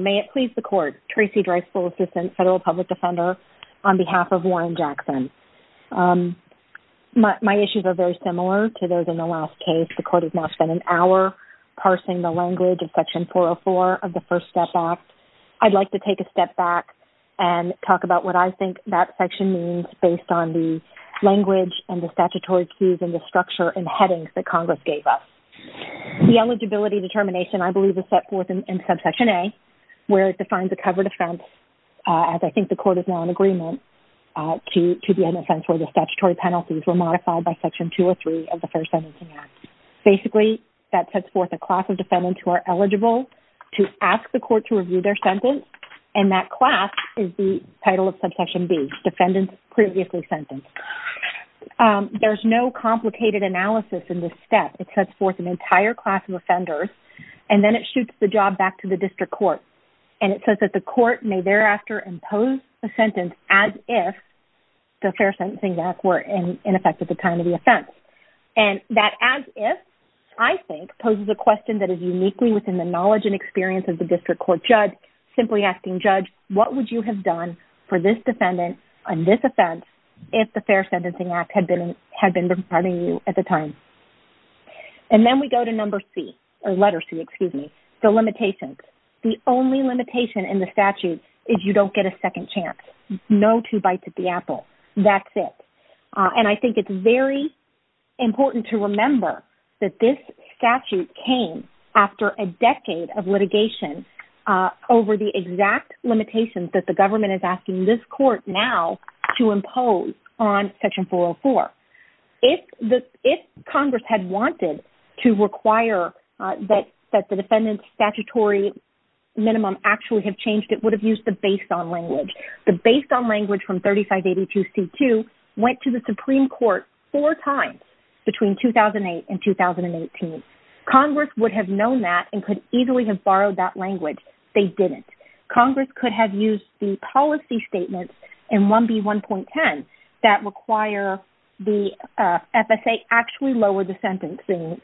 May it please the Court, Tracy Dreisbull, Assistant Federal Public Defender, on behalf of Warren Jackson. My issues are very similar to those in the last case. The Court has now spent an hour parsing the language of Section 404 of the First Step Act. I'd like to take a step back and talk about what I think that section means based on the language and the statutory cues and the structure and headings that Congress gave us. The eligibility determination, I believe, is set forth in Subsection A, where it defines a covered offense, as I think the Court is now in agreement, to be an offense where the statutory penalties were modified by Section 203 of the First Sentencing Act. Basically, that sets forth a class of defendants who are eligible to ask the Court to review their sentence, and that class is the title of Subsection B, defendants previously sentenced. There's no complicated analysis in this step. It sets forth an entire class of offenders, and then it shoots the job back to the District Court. And it says that the Court may thereafter impose a sentence as if the Fair Sentencing Acts were in effect at the time of the offense. And that as if, I think, poses a question that is uniquely within the knowledge and simply asking, Judge, what would you have done for this defendant on this offense if the Fair Sentencing Act had been in effect at the time? And then we go to number C, or letter C, excuse me, the limitations. The only limitation in the statute is you don't get a second chance, no two bites at the apple. That's it. And I think it's very important to remember that this statute came after a decade of litigation over the exact limitations that the government is asking this Court now to impose on Section 404. If Congress had wanted to require that the defendant's statutory minimum actually have changed, it would have used the based-on language. The based-on language from 3582C2 went to the Supreme Court four times between 2008 and 2018. Congress would have known that and could easily have borrowed that language. They didn't. Congress could have used the policy statements in 1B1.10 that require the FSA actually lower the sentencing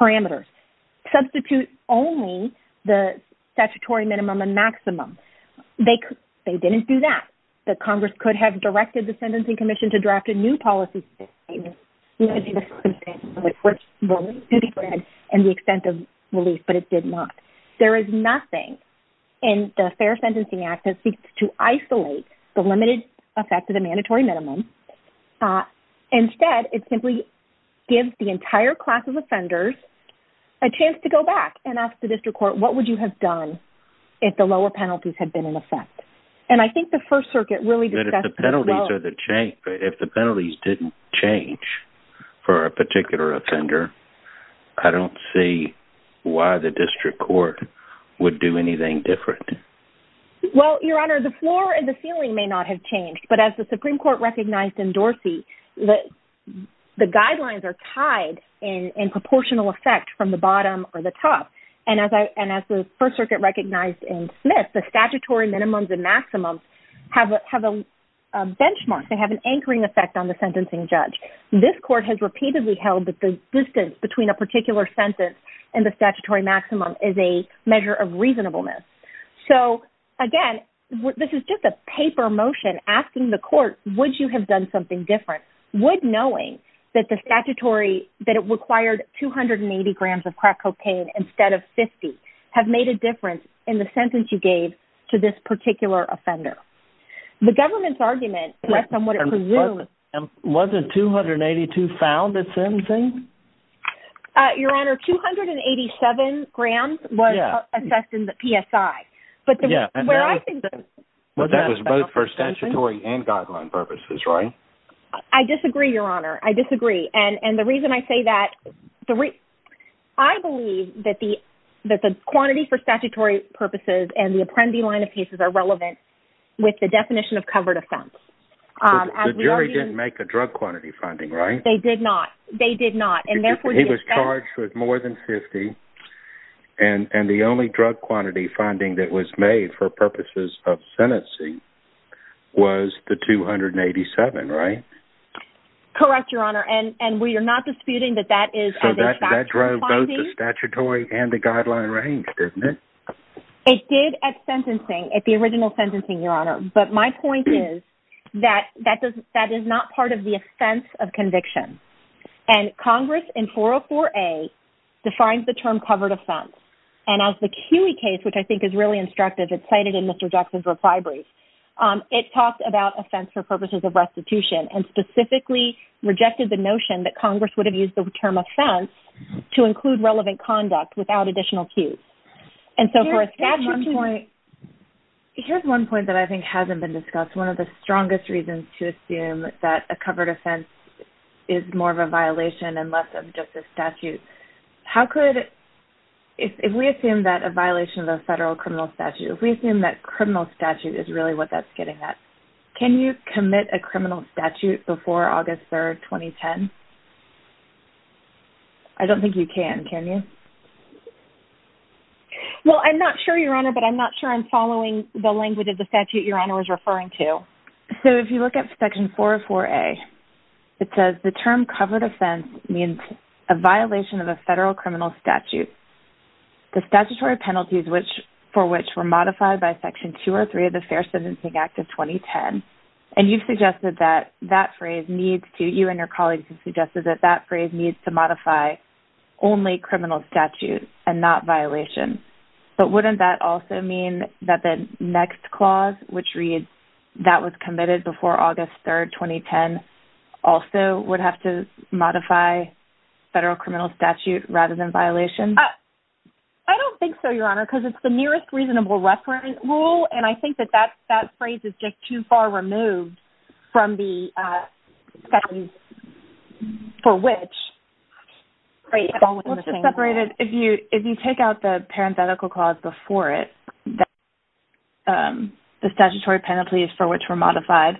parameters, substitute only the statutory minimum and maximum. They couldn't. They didn't do that. The Congress could have directed the Sentencing Commission to draft a new policy statement limiting the second sentence, which will be granted in the extent of relief, but it did not. There is nothing in the Fair Sentencing Act that seeks to isolate the limited effect of the mandatory minimum. Instead, it simply gives the entire class of offenders a chance to go back and ask the district court, what would you have done if the lower penalties had been in effect? And I think the First Circuit really discussed this as well. If the penalties didn't change for a particular offender, I don't see why the district court would do anything different. Well, Your Honor, the floor and the ceiling may not have changed, but as the Supreme Court recognized in Dorsey, the guidelines are tied in proportional effect from the bottom or the top. And as the First Circuit recognized in Smith, the statutory minimums and maximums have a benchmark. They have an anchoring effect on the sentencing judge. This court has repeatedly held that the distance between a particular sentence and the statutory maximum is a measure of reasonableness. So again, this is just a paper motion asking the court, would you have done something different? Would knowing that the statutory, that it required 280 grams of crack cocaine instead of 50, have made a difference in the sentence you gave to this particular offender? The government's argument rests on what it presumes. Wasn't 282 found at sentencing? Your Honor, 287 grams was assessed in the PSI. But where I think that... But that was both for statutory and guideline purposes, right? I disagree, Your Honor. I disagree. And the reason I say that, I believe that the quantity for statutory purposes and the with the definition of covered offense. The jury didn't make a drug quantity finding, right? They did not. They did not. And therefore... He was charged with more than 50, and the only drug quantity finding that was made for purposes of sentencing was the 287, right? Correct, Your Honor. And we are not disputing that that is... So that drove both the statutory and the guideline range, didn't it? It did at sentencing, at the original sentencing, Your Honor. But my point is that that is not part of the offense of conviction. And Congress in 404A defines the term covered offense. And as the CUI case, which I think is really instructive, it's cited in Mr. Jackson's reply brief, it talks about offense for purposes of restitution and specifically rejected the notion that Congress would have used the term offense to include relevant conduct without additional cues. And so for a statute... Here's one point that I think hasn't been discussed. One of the strongest reasons to assume that a covered offense is more of a violation and less of just a statute. How could... If we assume that a violation of a federal criminal statute, if we assume that criminal statute is really what that's getting at, can you commit a criminal statute before August 3, 2010? I don't think you can. Can you? Well, I'm not sure, Your Honor, but I'm not sure I'm following the language of the statute Your Honor was referring to. So if you look at Section 404A, it says the term covered offense means a violation of a federal criminal statute. The statutory penalties for which were modified by Section 203 of the Fair Sentencing Act of 2010. And you've suggested that that phrase needs to... You and your colleagues have suggested that that phrase needs to modify only criminal statute and not violation. But wouldn't that also mean that the next clause, which reads, that was committed before August 3, 2010, also would have to modify federal criminal statute rather than violation? I don't think so, Your Honor, because it's the nearest reasonable reference rule, and I think that that phrase is just too far removed from the sections for which. Great. Let's just separate it. If you take out the parenthetical clause before it, the statutory penalties for which were modified,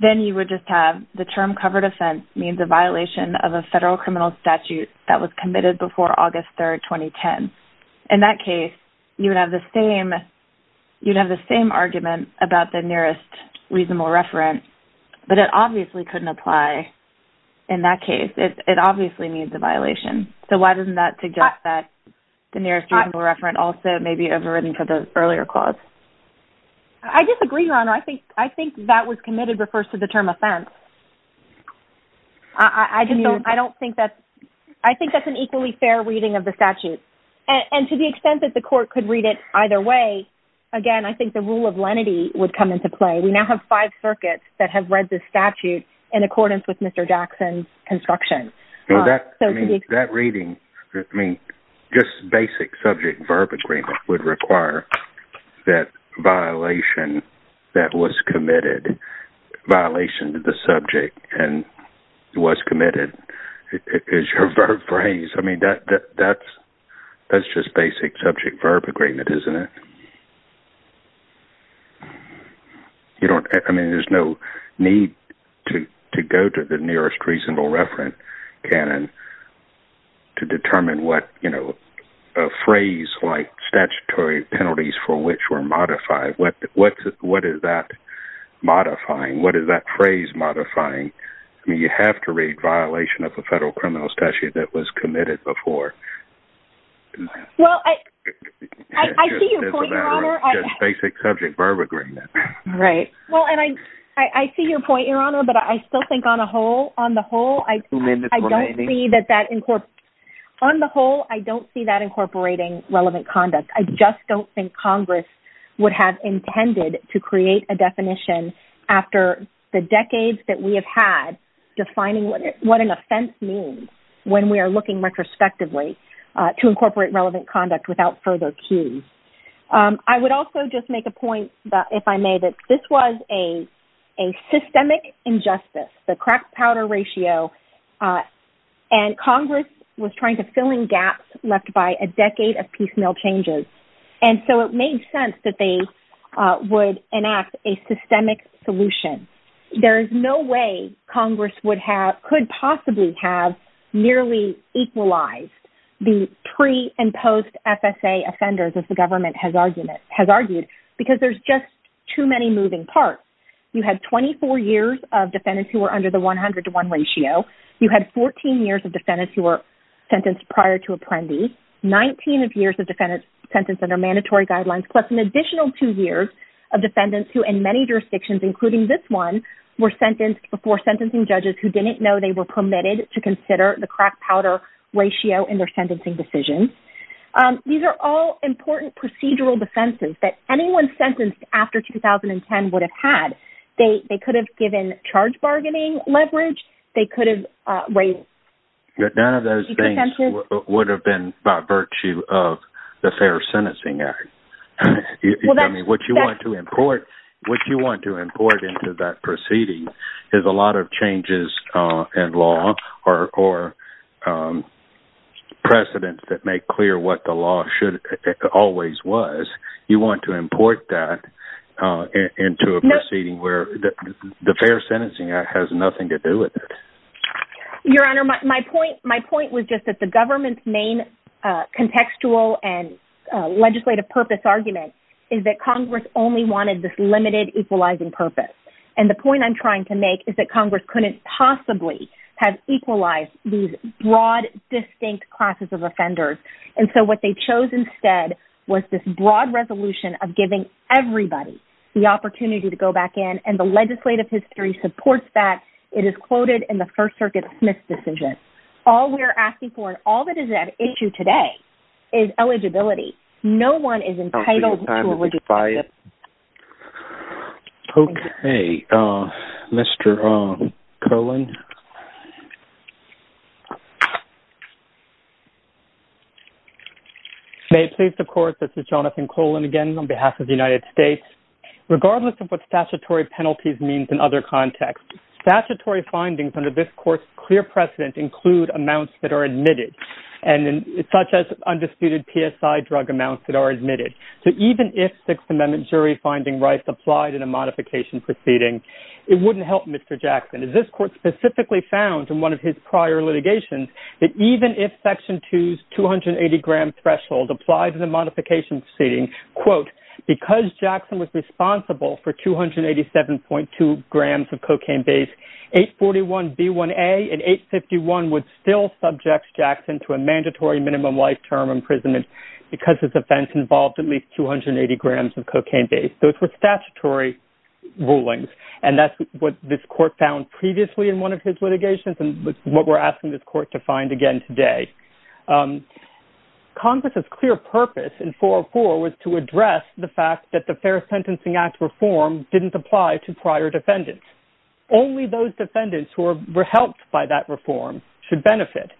then you would just have the term covered offense means a violation of a federal criminal statute that was committed before August 3, 2010. In that case, you would have the same argument about the nearest reasonable reference, but it obviously couldn't apply in that case. It obviously means a violation. So why doesn't that suggest that the nearest reasonable reference also may be overridden for the earlier clause? I disagree, Your Honor. I think that was committed refers to the term offense. I think that's an equally fair reading of the statute. And to the extent that the court could read it either way, again, I think the rule of lenity would come into play. We now have five circuits that have read the statute in accordance with Mr. Jackson's construction. That reading, just basic subject verb agreement, would require that violation that was committed, violation to the subject and was committed is your verb phrase. I mean, that's just basic subject verb agreement, isn't it? I mean, there's no need to go to the nearest reasonable reference canon to determine what a phrase like statutory penalties for which were modifying, what is that phrase modifying? I mean, you have to read violation of the federal criminal statute that was committed before. Well, I see your point, Your Honor. Just basic subject verb agreement. Right. Well, and I, I see your point, Your Honor, but I still think on a whole, on the whole, I don't see that that in court on the whole, I don't see that incorporating relevant conduct. I just don't think Congress would have intended to create a definition after the decades that we have had defining what, what an offense means when we are looking retrospectively to incorporate relevant conduct without further cues. I would also just make a point that if I may, that this was a, a systemic injustice, the crack powder ratio, and Congress was trying to fill in gaps left by a decade of piecemeal changes. And so it made sense that they would enact a systemic solution. There is no way Congress would have, could possibly have nearly equalized the pre and post FSA offenders as the government has argued, has argued because there's just too many moving parts. You had 24 years of defendants who were under the 100 to one ratio. You had 14 years of defendants who were sentenced prior to apprendee, 19 of years of defendants sentenced under mandatory guidelines, plus an additional two years of defendants who in many jurisdictions, including this one were sentenced before sentencing judges who didn't know they were permitted to consider the crack powder ratio in their sentencing decisions. These are all important procedural defenses that anyone sentenced after 2010 would have had. They, they could have given charge bargaining leverage. They could have raised. None of those things would have been by virtue of the fair sentencing act. I mean, what you want to import, what you want to import into that proceeding is a lot of changes in law or, or, um, precedent that make clear what the law should always was. You want to import that, uh, into a proceeding where the fair sentencing act has nothing to do with it. Your honor. My point, my point was just that the government's main, uh, contextual and, uh, legislative purpose argument is that Congress only wanted this limited equalizing purpose. And the point I'm trying to make is that Congress couldn't possibly have equalized these broad distinct classes of offenders. And so what they chose instead was this broad resolution of giving everybody the opportunity to go back in and the legislative history supports that it is quoted in the first circuit Smith's decision. All we're asking for and all that is at issue today is eligibility. No one is entitled by it. Okay. Uh, Mr. Um, colon. May it please the court. This is Jonathan colon again, on behalf of the United States, regardless of what statutory penalties means in other contexts, statutory findings under this course, clear precedent include amounts that are admitted and then such as undisputed PSI drug amounts that are admitted. So even if sixth amendment jury finding rights applied in a modification proceeding, it wouldn't help Mr. Jackson. Is this court specifically found in one of his prior litigations that even if section two's 280 gram threshold applied to the modification seating quote, because Jackson was responsible for 287.2 grams of cocaine base, eight 41 B one a and eight 51 would still subjects Jackson to a mandatory minimum life term imprisonment because his offense involved at least 280 grams of cocaine base. Those were statutory rulings. And that's what this court found previously in one of his litigations and what we're asking this court to find again today. Um, Congress has clear purpose in four or four was to address the fact that the fair sentencing act reform didn't apply to prior defendants. Only those defendants who were helped by that reform should benefit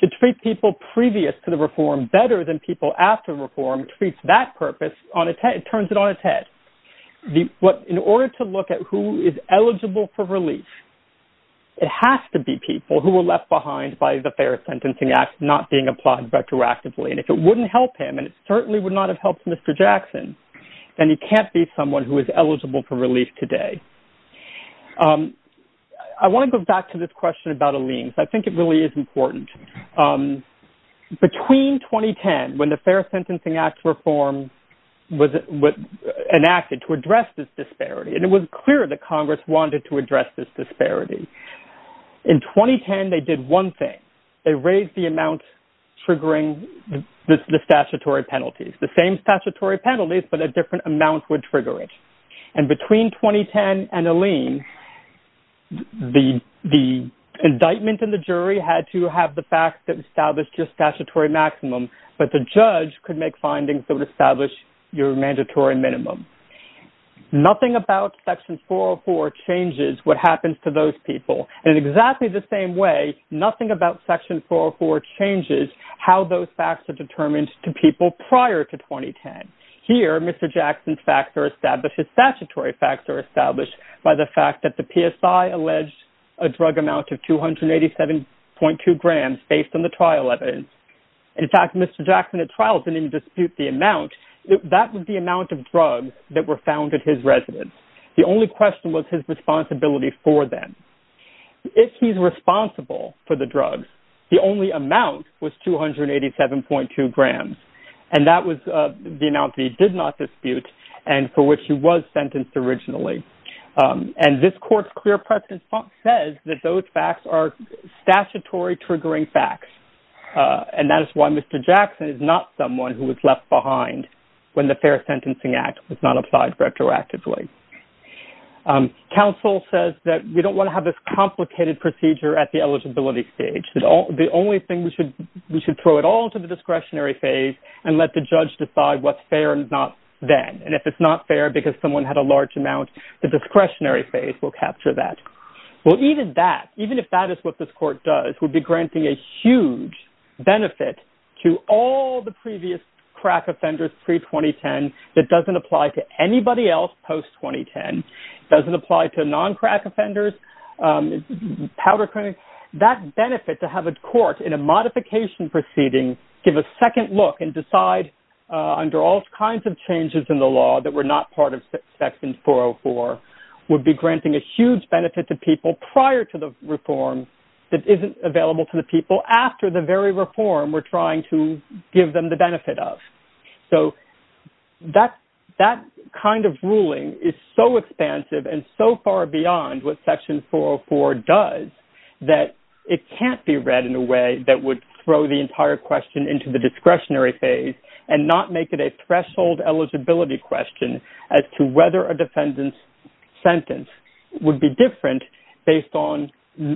to treat people previous to the reform better than people after reform treats that purpose on a 10, it turns it on its head. What in order to look at who is eligible for relief, it has to be people who were left behind by the fair sentencing act, not being applied retroactively. And if it wouldn't help him, and it certainly would not have helped Mr. Jackson, and he can't be someone who is eligible for relief today. Um, I want to go back to this question about a lean. So I think it really is important. Um, between 2010 when the fair sentencing act reform was, was enacted to address this disparity. And it was clear that Congress wanted to address this disparity in 2010. They did one thing, they raised the amount, triggering the statutory penalties, the same statutory penalties, but a different amount would trigger it. And between 2010 and a lean, the, the indictment and the jury had to have the fact that established just statutory maximum, but the judge could make findings that would establish your mandatory minimum. Nothing about section four or four changes what happens to those people. And in exactly the same way, nothing about section four or four changes how those facts are determined to people prior to 2010. Here, Mr. Jackson's facts are established. His statutory facts are established by the fact that the PSI alleged a drug amount of 287.2 grams based on the trial evidence. In fact, Mr. Jackson at trials didn't even dispute the amount that would be amount of drugs that were found at his residence. The only question was his responsibility for them. If he's responsible for the drugs, the only amount was 287.2 grams. And that was the amount that he did not dispute. And for which he was sentenced originally. And this court's clear precedent says that those facts are statutory triggering facts. And that is why Mr. Jackson is not someone who was left behind when the fair and not then. And if it's not fair because someone had a large amount, the discretionary phase will capture that. Well, even that, even if that is what this court does would be granting a huge benefit to all the previous crack offenders pre-2010. And that's why it's not fair. And that's why it's not fair. It doesn't apply to non-crack offenders. That benefit to have a court in a modification proceeding, give a second look and decide under all kinds of changes in the law that were not part of section 404 would be granting a huge benefit to people prior to the reform. That isn't available to the people after the very reform we're trying to give them the benefit of. So that, that kind of ruling is so expansive and so far beyond what section 404 does that it can't be read in a way that would throw the entire question into the discretionary phase and not make it a threshold eligibility question as to whether a defendant's sentence would be different based on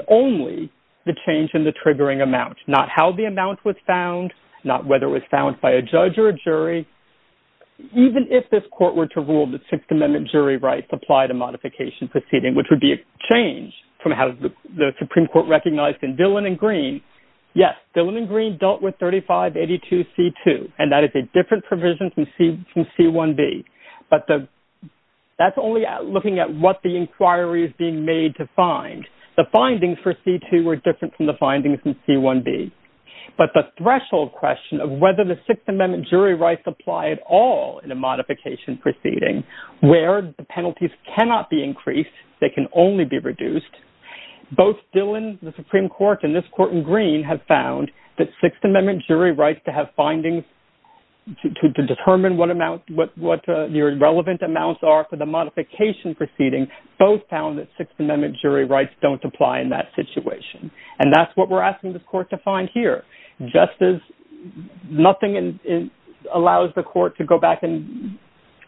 only the change in the triggering amount, not how the amount was found, not whether it was found by a judge or a jury, even if this court were to rule the sixth amendment jury rights apply to modification proceeding, which would be a change from how the Supreme Court recognized in Dillon and Green. Yes, Dillon and Green dealt with 3582 C2 and that is a different provision from C1B. But the, that's only looking at what the inquiry is being made to find the findings for C2 were different from the findings in C1B. But the threshold question of whether the sixth amendment jury rights apply at all in a modification proceeding where the penalties cannot be increased, they can only be reduced. Both Dillon, the Supreme Court and this court in green have found that sixth amendment jury rights to have findings to determine what amount, what your relevant amounts are for the modification proceeding. Both found that sixth amendment jury rights don't apply in that situation. And that's what we're asking this court to find here. Justice nothing in allows the court to go back and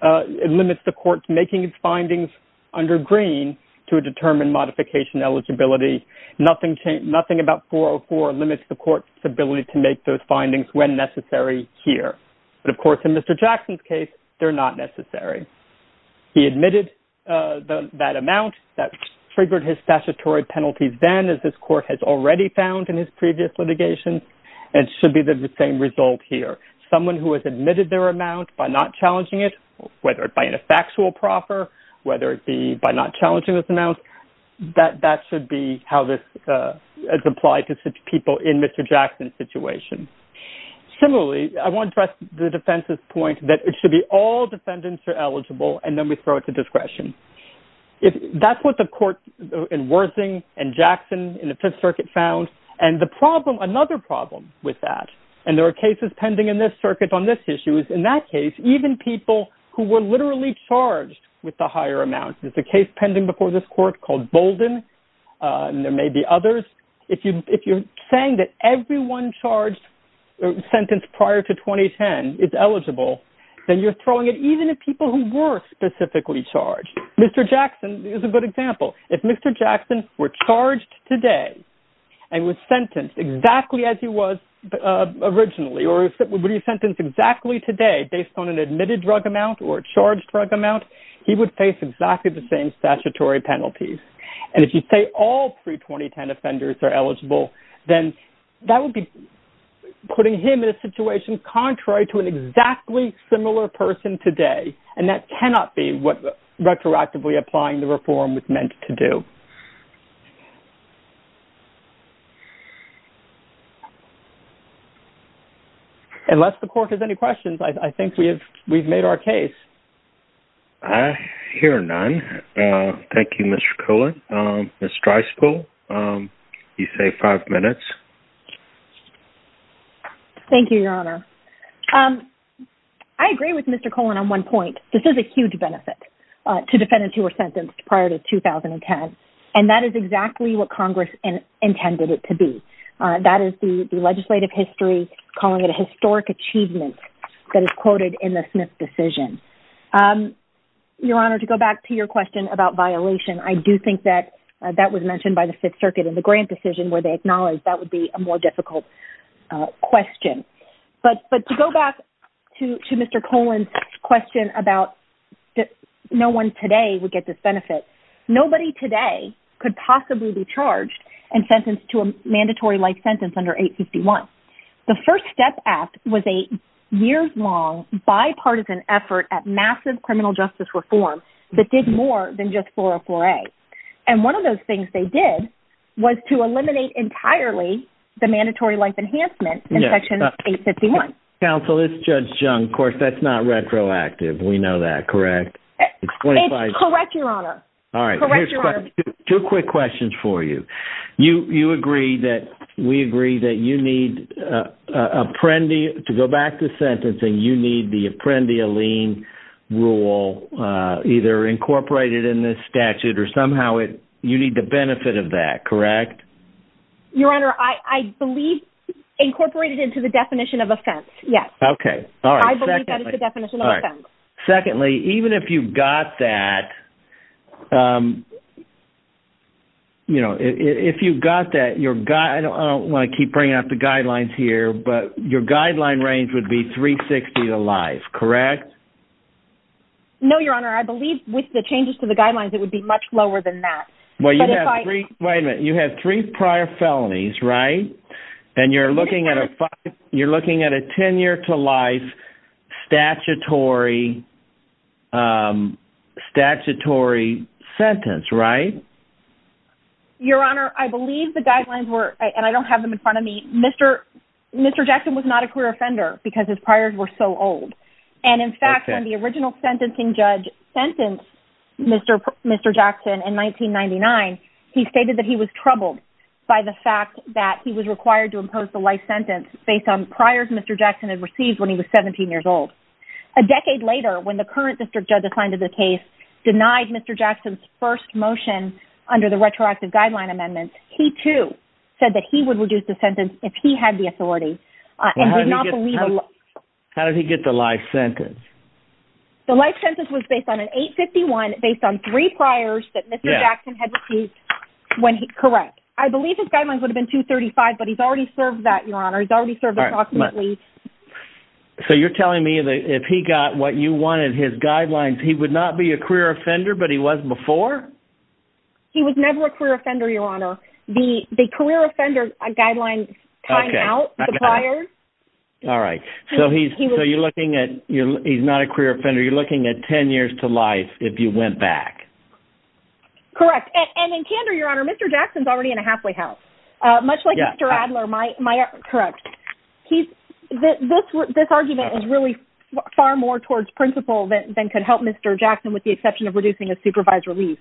it limits the court to making its findings under green to a determined modification eligibility. Nothing changed. Nothing about 404 limits the court's ability to make those findings when necessary here. But of course, in Mr. Jackson's case, they're not necessary. He admitted that amount that triggered his statutory penalties. Then as this court has already found in his previous litigation, it should be the same result here. Someone who has admitted their amount by not challenging it, whether it by an effectual proper, whether it be by not challenging this amount, that that should be how this is applied to people in Mr. Jackson's situation. Similarly, I want to press the defense's point that it should be all defendants are eligible. And then we throw it to discretion. That's what the court in Worthing and Jackson in the fifth circuit found. And the problem, another problem with that, and there are cases pending in this circuit on this issue is in that case, even people who were literally charged with the higher amount, there's a case pending before this court called Bolden. And there may be others. If you, if you're saying that everyone charged sentence prior to 2010 is eligible, then you're throwing it even if people who were specifically charged, Mr. Jackson is a good example. If Mr. Jackson were charged today and was sentenced exactly as he was originally, or would he sentence exactly today based on an admitted drug amount or charged drug amount, he would face exactly the same statutory penalties. And if you say all pre 2010 offenders are eligible, then that would be putting him in a situation contrary to an exactly similar person today. And that cannot be what retroactively applying the reform was meant to do. Unless the court has any questions. I think we have, we've made our case. I hear none. Thank you, Mr. Cohen. Mr. Streisfeld, you say five minutes. Thank you, Your Honor. I agree with Mr. Cohen on one point. This is a huge benefit to defendants who were sentenced prior to 2010. And that is exactly what Congress intended it to be. That is the legislative history, calling it a historic achievement that is quoted in the Smith decision. Your Honor, to go back to your question about violation. I do think that that was mentioned by the fifth circuit and the grant decision where they acknowledge that would be a more difficult question, but to go back to Mr. Cohen's question about no one today would get this benefit. Nobody today could possibly be charged and sentenced to a mandatory life sentence under 851. The first step act was a years long bipartisan effort at massive criminal justice reform that did more than just for a foray. And one of those things they did was to eliminate entirely the mandatory life enhancement in section 851. Counsel, this is Judge Jung. Of course, that's not retroactive. We know that, correct? It's correct, Your Honor. All right. Two quick questions for you. You agree that we agree that you need apprendi to go back to sentencing. You need the apprendi a lien rule, either incorporated in this statute or somehow it, you need the benefit of that, correct? Your Honor, I believe incorporated into the definition of offense. Yes. Okay. All right. Secondly, even if you've got that, you know, if you've got that, your guy, I don't want to keep bringing up the guidelines here, but your guideline range would be 360 to life, correct? No, Your Honor. I believe with the changes to the guidelines, it would be much lower than that. Wait a minute. You have three prior felonies, right? And you're looking at a tenure to life statutory sentence, right? Your Honor, I believe the guidelines were, and I don't have them in front of me, Mr. Jackson was not a career offender because his priors were so old. And in fact, when the original sentencing judge sentenced Mr. Jackson in 1999, he stated that he was troubled by the fact that he was required to impose the life sentence based on priors Mr. Jackson had received when he was 17 years old. A decade later, when the current district judge assigned to the case denied Mr. Jackson's first motion under the retroactive guideline amendments, he too said that he would reduce the sentence if he had the authority. How did he get the life sentence? The life sentence was based on an 851 based on three priors that Mr. Jackson had received when he, correct. I believe his guidelines would have been 235, but he's already served that, Your Honor. He's already served approximately. So you're telling me that if he got what you wanted, his guidelines, he would not be a career offender, but he was before? He was never a career offender, Your Honor. The career offender guidelines time out, the priors. All right. So you're looking at, he's not a career offender. You're looking at 10 years to life if you went back. Correct. And in candor, Your Honor, Mr. Jackson's already in a halfway house. Much like Mr. Adler, my, my, correct. He's this, this argument is really far more towards principle than could help Mr. Jackson with the exception of reducing a supervised release.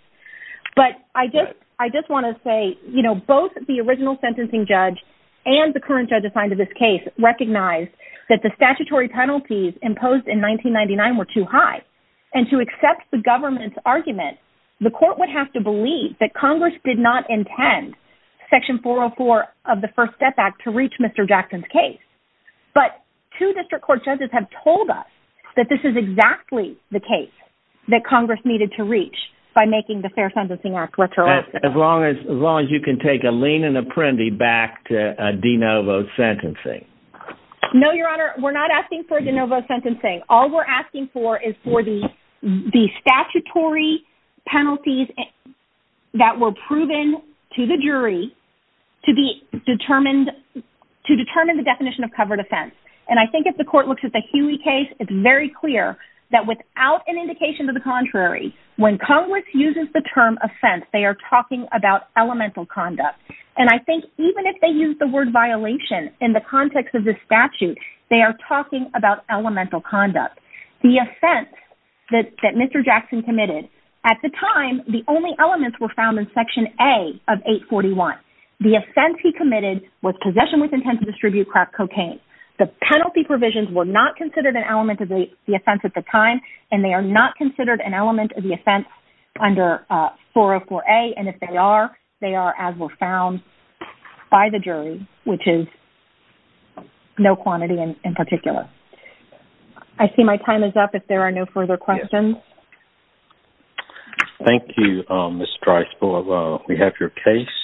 But I just, I just want to say, you know, both the original sentencing judge and the current judge assigned to this case recognized that the statutory penalties imposed in 1999 were too high. And to accept the government's argument, the court would have to believe that Congress did not intend section 404 of the first step back to reach Mr. Jackson's case. But two district court judges have told us that this is exactly the case that Congress needed to reach by making the Fair Sentencing Act retroactive. As long as, as long as you can take a lien and apprendi back to a de novo sentencing. No, Your Honor, we're not asking for a de novo sentencing. All we're asking for is for the, the statutory penalties that were proven to the jury to be determined, to determine the definition of covered offense. And I think if the court looks at the Huey case, it's very clear that without an indication to the contrary, when Congress uses the term offense, they are talking about elemental conduct. And I think even if they use the word violation in the context of this statute, they are talking about elemental conduct. The offense that Mr. Jackson committed, at the time, the only elements were found in section A of 841. The offense he committed was possession with intent to distribute crack cocaine. The penalty provisions were not considered an element of the offense at the time, and they are not considered an element of the offense under 404A. And if they are, they are as were found by the jury, which is no quantity in particular. I see my time is up. If there are no further questions. Thank you, Ms. Dreisbel. We have your case.